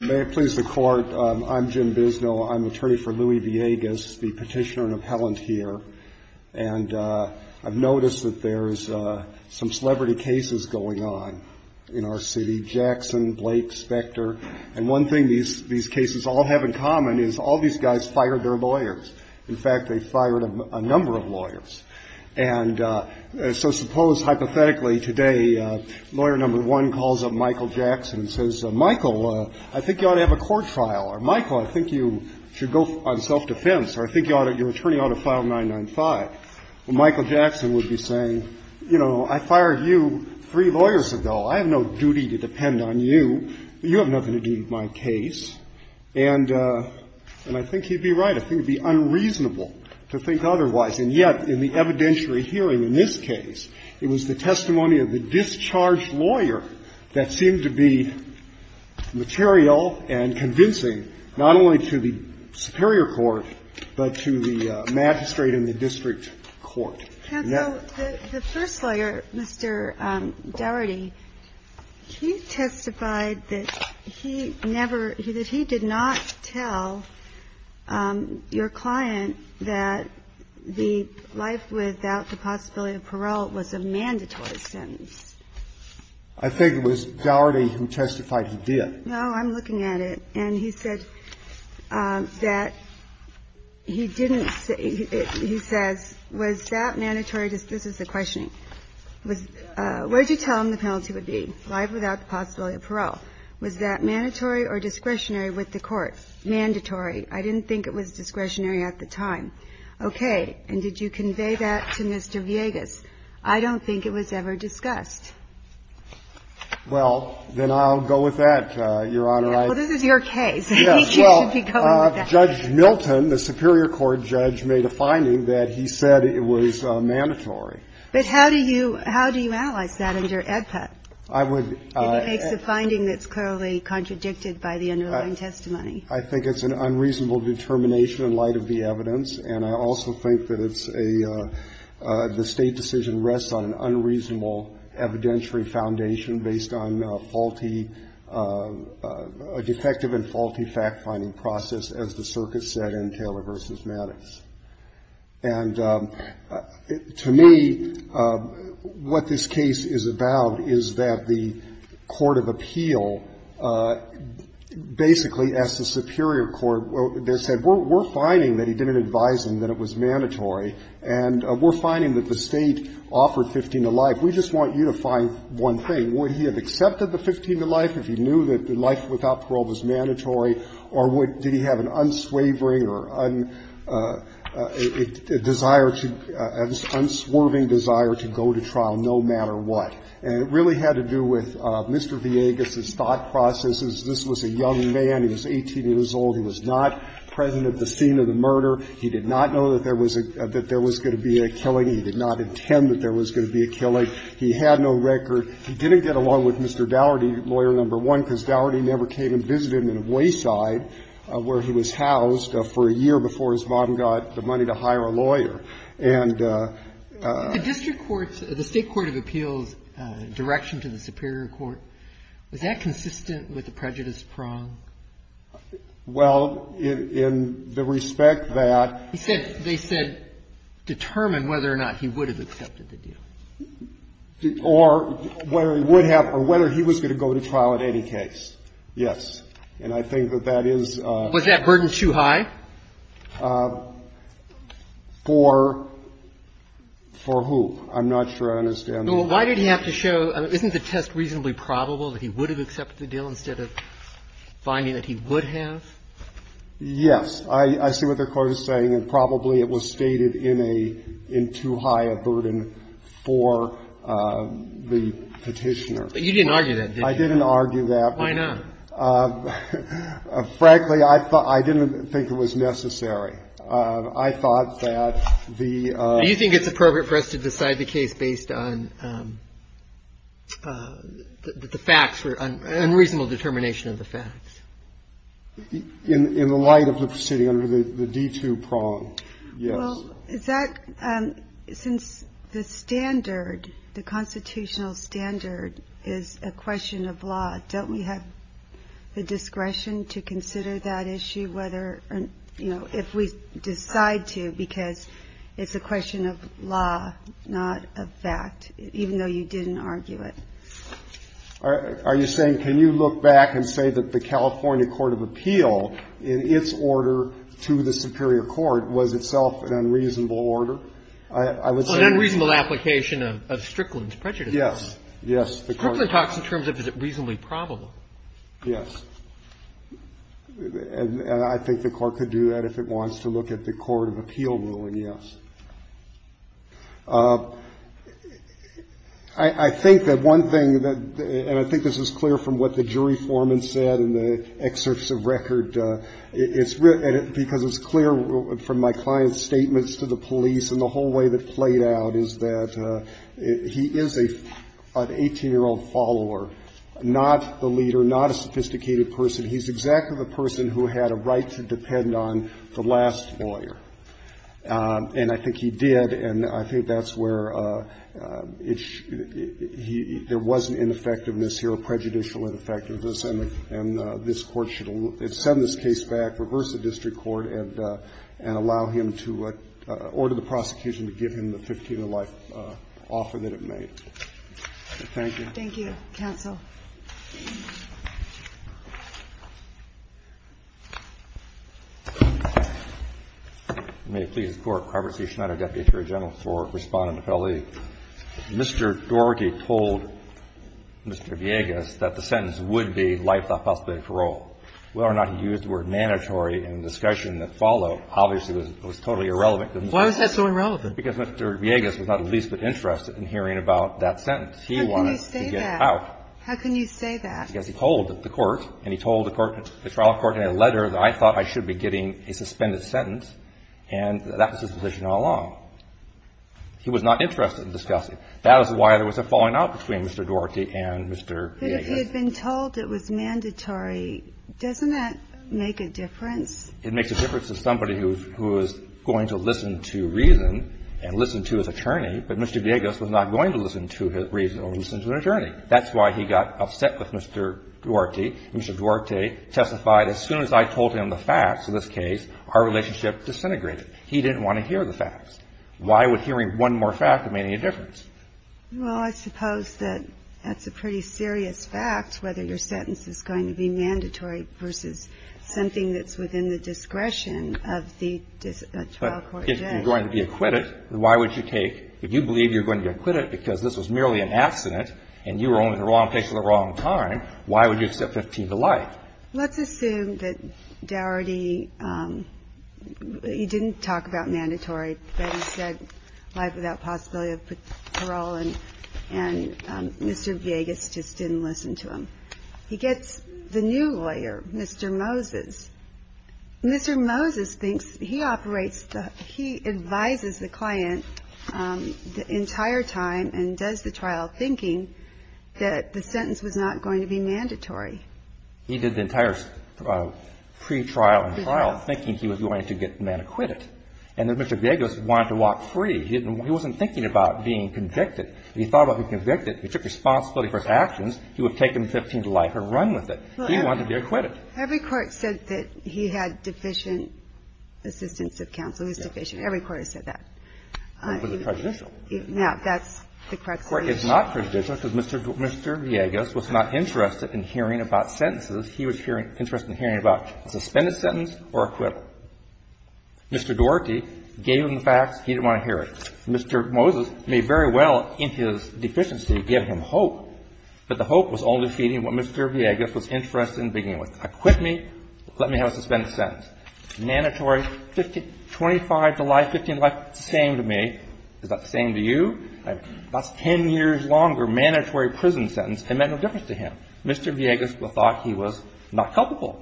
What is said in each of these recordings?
May it please the Court, I'm Jim Bisno. I'm attorney for Louis Villegas, the petitioner and appellant here. And I've noticed that there's some celebrity cases going on in our city. Jackson, Blake, Specter. And one thing these cases all have in common is all these guys fired their lawyers. In fact, they fired a number of lawyers. And so suppose, hypothetically, today, lawyer number one calls up Michael Jackson and says, Michael, I think you ought to have a court trial, or, Michael, I think you should go on self-defense, or I think your attorney ought to file 995. Well, Michael Jackson would be saying, you know, I fired you three lawyers ago. I have no duty to depend on you. You have nothing to do with my case. And I think he'd be right. I think it would be unreasonable to think otherwise. And yet, in the evidentiary hearing in this case, it was the testimony of the discharged lawyer that seemed to be material and convincing not only to the superior court, but to the magistrate and the district court. Now the first lawyer, Mr. Dougherty, he testified that he never he that he did not tell your client that the life without the possibility of parole was a mandatory I think it was Dougherty who testified he did. No, I'm looking at it. And he said that he didn't say, he says, was that mandatory? This is the questioning. Where did you tell him the penalty would be, life without the possibility of parole? Was that mandatory or discretionary with the court? Mandatory. I didn't think it was discretionary at the time. Okay. And did you convey that to Mr. Villegas? I don't think it was ever discussed. Well, then I'll go with that, Your Honor. Well, this is your case. He should be going with that. Judge Milton, the superior court judge, made a finding that he said it was mandatory. But how do you analyze that under AEDPA? I would. It makes a finding that's clearly contradicted by the underlying testimony. I think it's an unreasonable determination in light of the evidence. And I also think that it's a – the State decision rests on an unreasonable evidentiary foundation based on faulty – a defective and faulty fact-finding process, as the circuit said in Taylor v. Maddox. And to me, what this case is about is that the court of appeal basically asked the defendant to testify and to prove to the defendant that it was mandatory. And we're finding that the State offered 15 to life. We just want you to find one thing. Would he have accepted the 15 to life if he knew that life without parole was mandatory? Or would – did he have an unswavering or a desire to – an unswerving desire to go to trial, no matter what? And it really had to do with Mr. Villegas' thought processes. This was a young man. He was 18 years old. He was not present at the scene of the murder. He did not know that there was a – that there was going to be a killing. He did not intend that there was going to be a killing. He had no record. He didn't get along with Mr. Daugherty, lawyer number one, because Daugherty never came and visited him in Wayside, where he was housed, for a year before his mom got the money to hire a lawyer. And the – The whole notion about concession is probably not something of an easy task for judge But detective Tallman, who apparently had already pursued the case in other countries because he questioned the direction to the superior court. Was that consistent of the prejudice prong? Well, in the respect that – He said – they said, determined whether or not he would have accepted the deal. Or – or whether he would have – or whether he was going to go to trial in any case. Yes. And I think that that is – Was that burden too high? For – for who? I'm not sure I understand. Well, why did he have to show – isn't the test reasonably probable that he would have accepted the deal instead of finding that he would have? Yes. I see what the court is saying. And probably it was stated in a – in too high a burden for the petitioner. But you didn't argue that, did you? I didn't argue that. Why not? Frankly, I thought – I didn't think it was necessary. I thought that the – Do you think it's appropriate for us to decide the case based on the facts or unreasonable determination of the facts? In the light of the proceeding under the D2 prong, yes. Well, is that – since the standard, the constitutional standard is a question of law, don't we have the discretion to consider that issue whether – you know, if we decide to, because it's a question of law, not a fact, even though you didn't argue it? Are you saying – can you look back and say that the California court of appeal, in its order to the superior court, was itself an unreasonable order? I would say – Well, an unreasonable application of Strickland's prejudice. Yes. Yes. The court – Strickland talks in terms of is it reasonably probable. Yes. And I think the court could do that if it wants to look at the court of appeal ruling, yes. I think that one thing that – and I think this is clear from what the jury foreman said in the excerpts of record, it's – because it's clear from my client's statements to the police and the whole way that played out is that he is an 18-year-old follower, not the leader, not a sophisticated person. He's exactly the person who had a right to depend on the last lawyer. And I think he did, and I think that's where it – there was an ineffectiveness here, a prejudicial ineffectiveness, and this Court should send this case back, reverse the district court, and allow him to – order the prosecution to give him the 15-year life offer that it made. Thank you. Thank you, counsel. You may please report. Robert C. Schneider, Deputy Attorney General for Respondent Appeal. Mr. Dorgy told Mr. Villegas that the sentence would be life without possibility of parole. Whether or not he used the word mandatory in the discussion that followed obviously was totally irrelevant. Why was that so irrelevant? Because Mr. Villegas was not the least bit interested in hearing about that sentence. He wanted to get out. How can you say that? How can you say that? Because he told the court, and he told the trial court in a letter that I thought I should be getting a suspended sentence, and that was his position all along. He was not interested in discussing. That is why there was a falling out between Mr. Dorgy and Mr. Villegas. But if he had been told it was mandatory, doesn't that make a difference? It makes a difference to somebody who is going to listen to reason and listen to his attorney, but Mr. Villegas was not going to listen to his reason or listen to an attorney. That's why he got upset with Mr. Dorgy. Mr. Dorgy testified, as soon as I told him the facts in this case, our relationship disintegrated. He didn't want to hear the facts. Why would hearing one more fact make any difference? Well, I suppose that that's a pretty serious fact, whether your sentence is going to be mandatory versus something that's within the discretion of the trial court judge. But if you're going to be acquitted, why would you take, if you believe you're going to be acquitted because this was merely an accident and you were only in the wrong place at the wrong time, why would you accept 15 to life? Let's assume that Dougherty, he didn't talk about mandatory, but he said life without possibility of parole, and Mr. Villegas just didn't listen to him. He gets the new lawyer, Mr. Moses. Mr. Moses thinks he operates, he advises the client the entire time and does the trial thinking that the sentence was not going to be mandatory. He did the entire pretrial and trial thinking he was going to get the man acquitted. And Mr. Villegas wanted to walk free. He wasn't thinking about being convicted. If he thought about being convicted, he took responsibility for his actions, he would have taken 15 to life and run with it. He wanted to be acquitted. Every court said that he had deficient assistance of counsel. He was deficient. Every court has said that. But it was prejudicial. No, that's the correct solution. This Court is not prejudicial because Mr. Villegas was not interested in hearing about sentences he was interested in hearing about, a suspended sentence or acquittal. Mr. Dougherty gave him the facts. He didn't want to hear it. Mr. Moses may very well in his deficiency give him hope, but the hope was only feeding what Mr. Villegas was interested in beginning with. Acquit me. Let me have a suspended sentence. Mandatory 25 to life, 15 to life, same to me. Is that the same to you? That's 10 years longer mandatory prison sentence. It meant no difference to him. Mr. Villegas thought he was not culpable.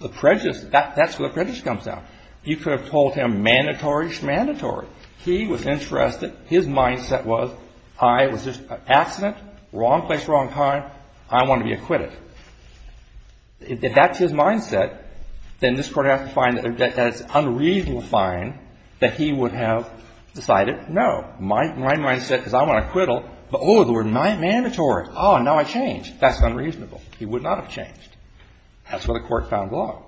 The prejudice, that's where the prejudice comes down. You could have told him mandatory is mandatory. He was interested. His mindset was I was just an accident, wrong place, wrong time. I want to be acquitted. If that's his mindset, then this Court has to find that it's an unreasonable find that he would have decided no. My mindset is I want to acquittal, but oh, the word mandatory. Oh, now I change. That's unreasonable. He would not have changed. That's where the Court found law.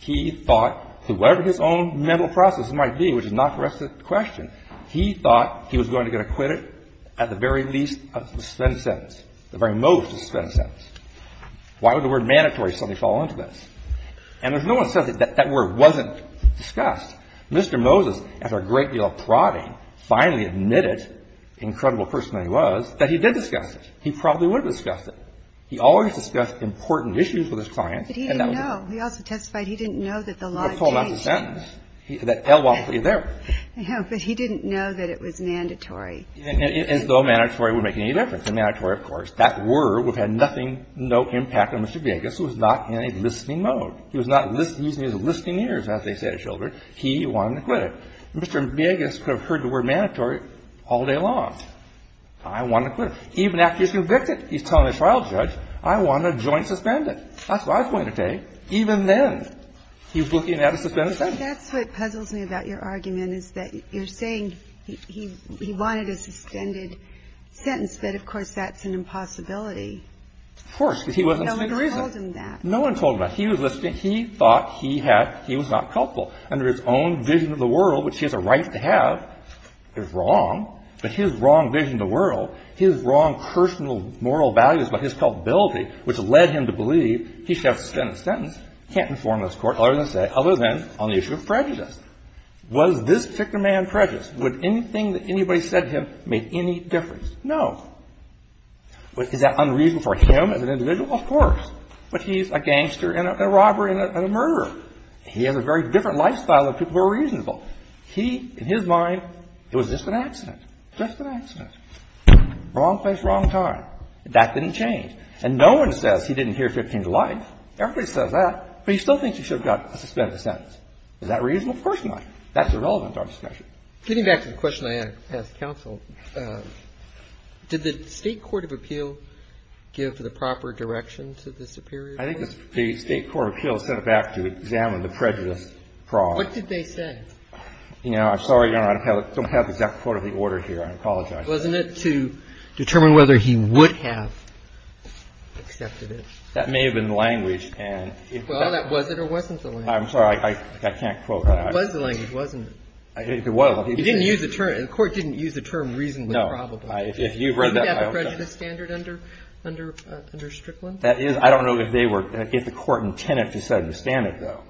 He thought whoever his own mental process might be, which is not the rest of the question, he thought he was going to get acquitted at the very least of the suspended sentence, the very most of the suspended sentence. Why would the word mandatory suddenly fall into this? And if no one says that that word wasn't discussed, Mr. Moses, after a great deal of prodding, finally admitted, incredible person that he was, that he did discuss it. He probably would have discussed it. He always discussed important issues with his clients. But he didn't know. He also testified he didn't know that the law changed. He would have pulled out the sentence. That L was obviously there. No, but he didn't know that it was mandatory. As though mandatory would make any difference. Mandatory, of course. That word would have had nothing, no impact on Mr. Villegas, who was not in a listening mode. He was not using his listening ears, as they say to children. He wanted to quit it. Mr. Villegas could have heard the word mandatory all day long. I want to quit it. Even after he's convicted, he's telling a trial judge, I want a joint suspended. That's what I was going to take. Even then, he was looking at a suspended sentence. That's what puzzles me about your argument, is that you're saying he wanted a suspended sentence, that, of course, that's an impossibility. Of course. Because he wasn't speaking the reason. No one told him that. No one told him that. He was listening. He thought he had he was not culpable. Under his own vision of the world, which he has a right to have, is wrong. But his wrong vision of the world, his wrong personal moral values about his culpability, which led him to believe he should have a suspended sentence, can't inform this Court other than on the issue of prejudice. Was this particular man prejudiced? Would anything that anybody said to him make any difference? No. Is that unreasonable for him as an individual? Of course. But he's a gangster and a robber and a murderer. He has a very different lifestyle than people who are reasonable. He, in his mind, it was just an accident. Just an accident. Wrong place, wrong time. That didn't change. And no one says he didn't hear 15 delights. Everybody says that. But he still thinks he should have got a suspended sentence. Is that reasonable? Of course not. That's irrelevant to our discussion. Getting back to the question I asked counsel, did the State court of appeal give the proper direction to the superior? I think the State court of appeal sent it back to examine the prejudice fraud. What did they say? You know, I'm sorry, Your Honor. I don't have the exact quote of the order here. I apologize. Wasn't it to determine whether he would have accepted it? That may have been the language. Well, that was it or wasn't the language. I'm sorry. I can't quote that. It was the language, wasn't it? It was. He didn't use the term. The court didn't use the term reasonably probable. No. If you've read that. Isn't that the prejudice standard under Strickland? That is. I don't know if the court intended to set a standard, though.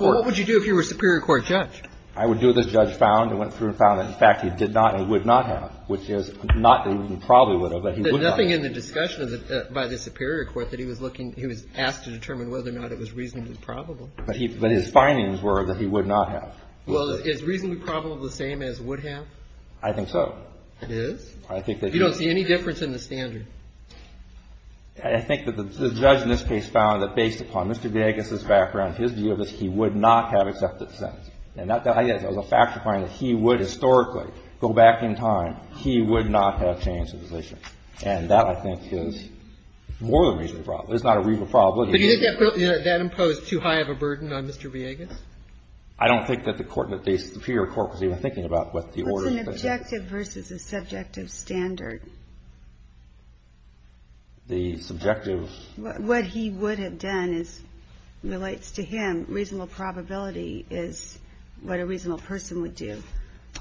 What would you do if you were a superior court judge? I would do what this judge found and went through and found that, in fact, he did not and would not have, which is not that he probably would have. Nothing in the discussion by the superior court that he was looking, he was asked to determine whether or not it was reasonably probable. But his findings were that he would not have. Well, is reasonably probable the same as would have? I think so. It is? I think that he is. You don't see any difference in the standard? I think that the judge in this case found that based upon Mr. Gagas's background, his view of this, he would not have accepted the sentence. And that, I guess, is a factual finding that he would historically go back in time. He would not have changed his decision. And that, I think, is more than reasonably probable. It's not a reasonable probability. But you think that imposed too high of a burden on Mr. Gagas? I don't think that the court, that the superior court was even thinking about what the order was. What's an objective versus a subjective standard? The subjective. What he would have done is relates to him. Reasonable probability is what a reasonable person would do.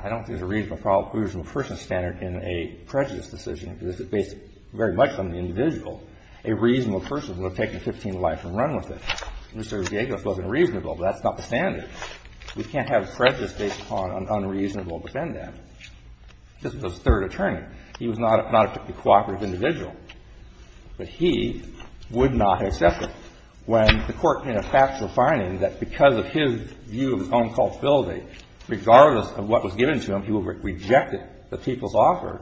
I don't think there's a reasonable person standard in a prejudice decision, because it's based very much on the individual. A reasonable person would have taken 15 life and run with it. Mr. Gagas wasn't reasonable. That's not the standard. We can't have prejudice based upon an unreasonable defendant. This was the third attorney. He was not a cooperative individual. But he would not have accepted it. When the court made a factual finding that because of his view of his own culpability, regardless of what was given to him, he would have rejected the people's offer,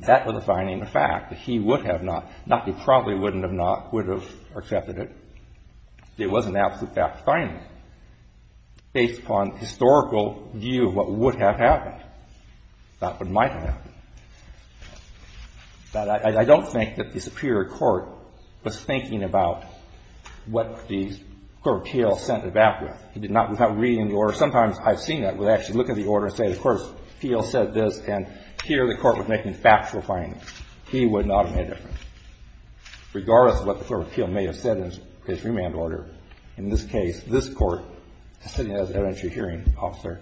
that was a finding, a fact, that he would have not, not that he probably wouldn't have not, would have accepted it. It was an absolute fact finding based upon historical view of what would have happened, not what might have happened. But I don't think that the superior court was thinking about what the Court of Appeals sent it back with. It did not without reading the order. Sometimes I've seen that, where they actually look at the order and say, of course, the appeal said this, and here the court was making factual findings. He would not have made a difference. Regardless of what the Court of Appeals may have said in his remand order, in this case, this Court, sitting as an evidentiary hearing officer,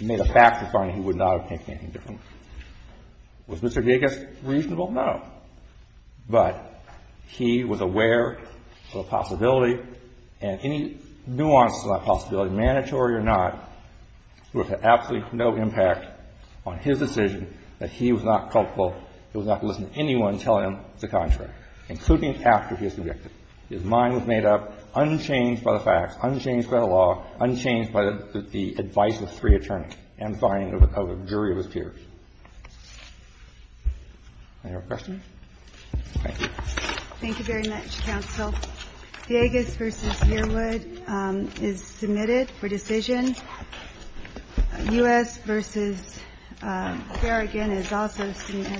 made a factual finding, he would not have made anything different. Was Mr. Gigas reasonable? No. But he was aware of the possibility, and any nuances of that possibility, mandatory or not, would have had absolutely no impact on his decision that he was not culpable. He would not have listened to anyone telling him the contrary, including after he was convicted. His mind was made up, unchanged by the facts, unchanged by the law, unchanged by the advice of three attorneys, and by an overcovered jury of his peers. Any other questions? Thank you. Thank you very much, counsel. Gigas v. Yearwood is submitted for decision. U.S. v. Berrigan is also submitted for decision.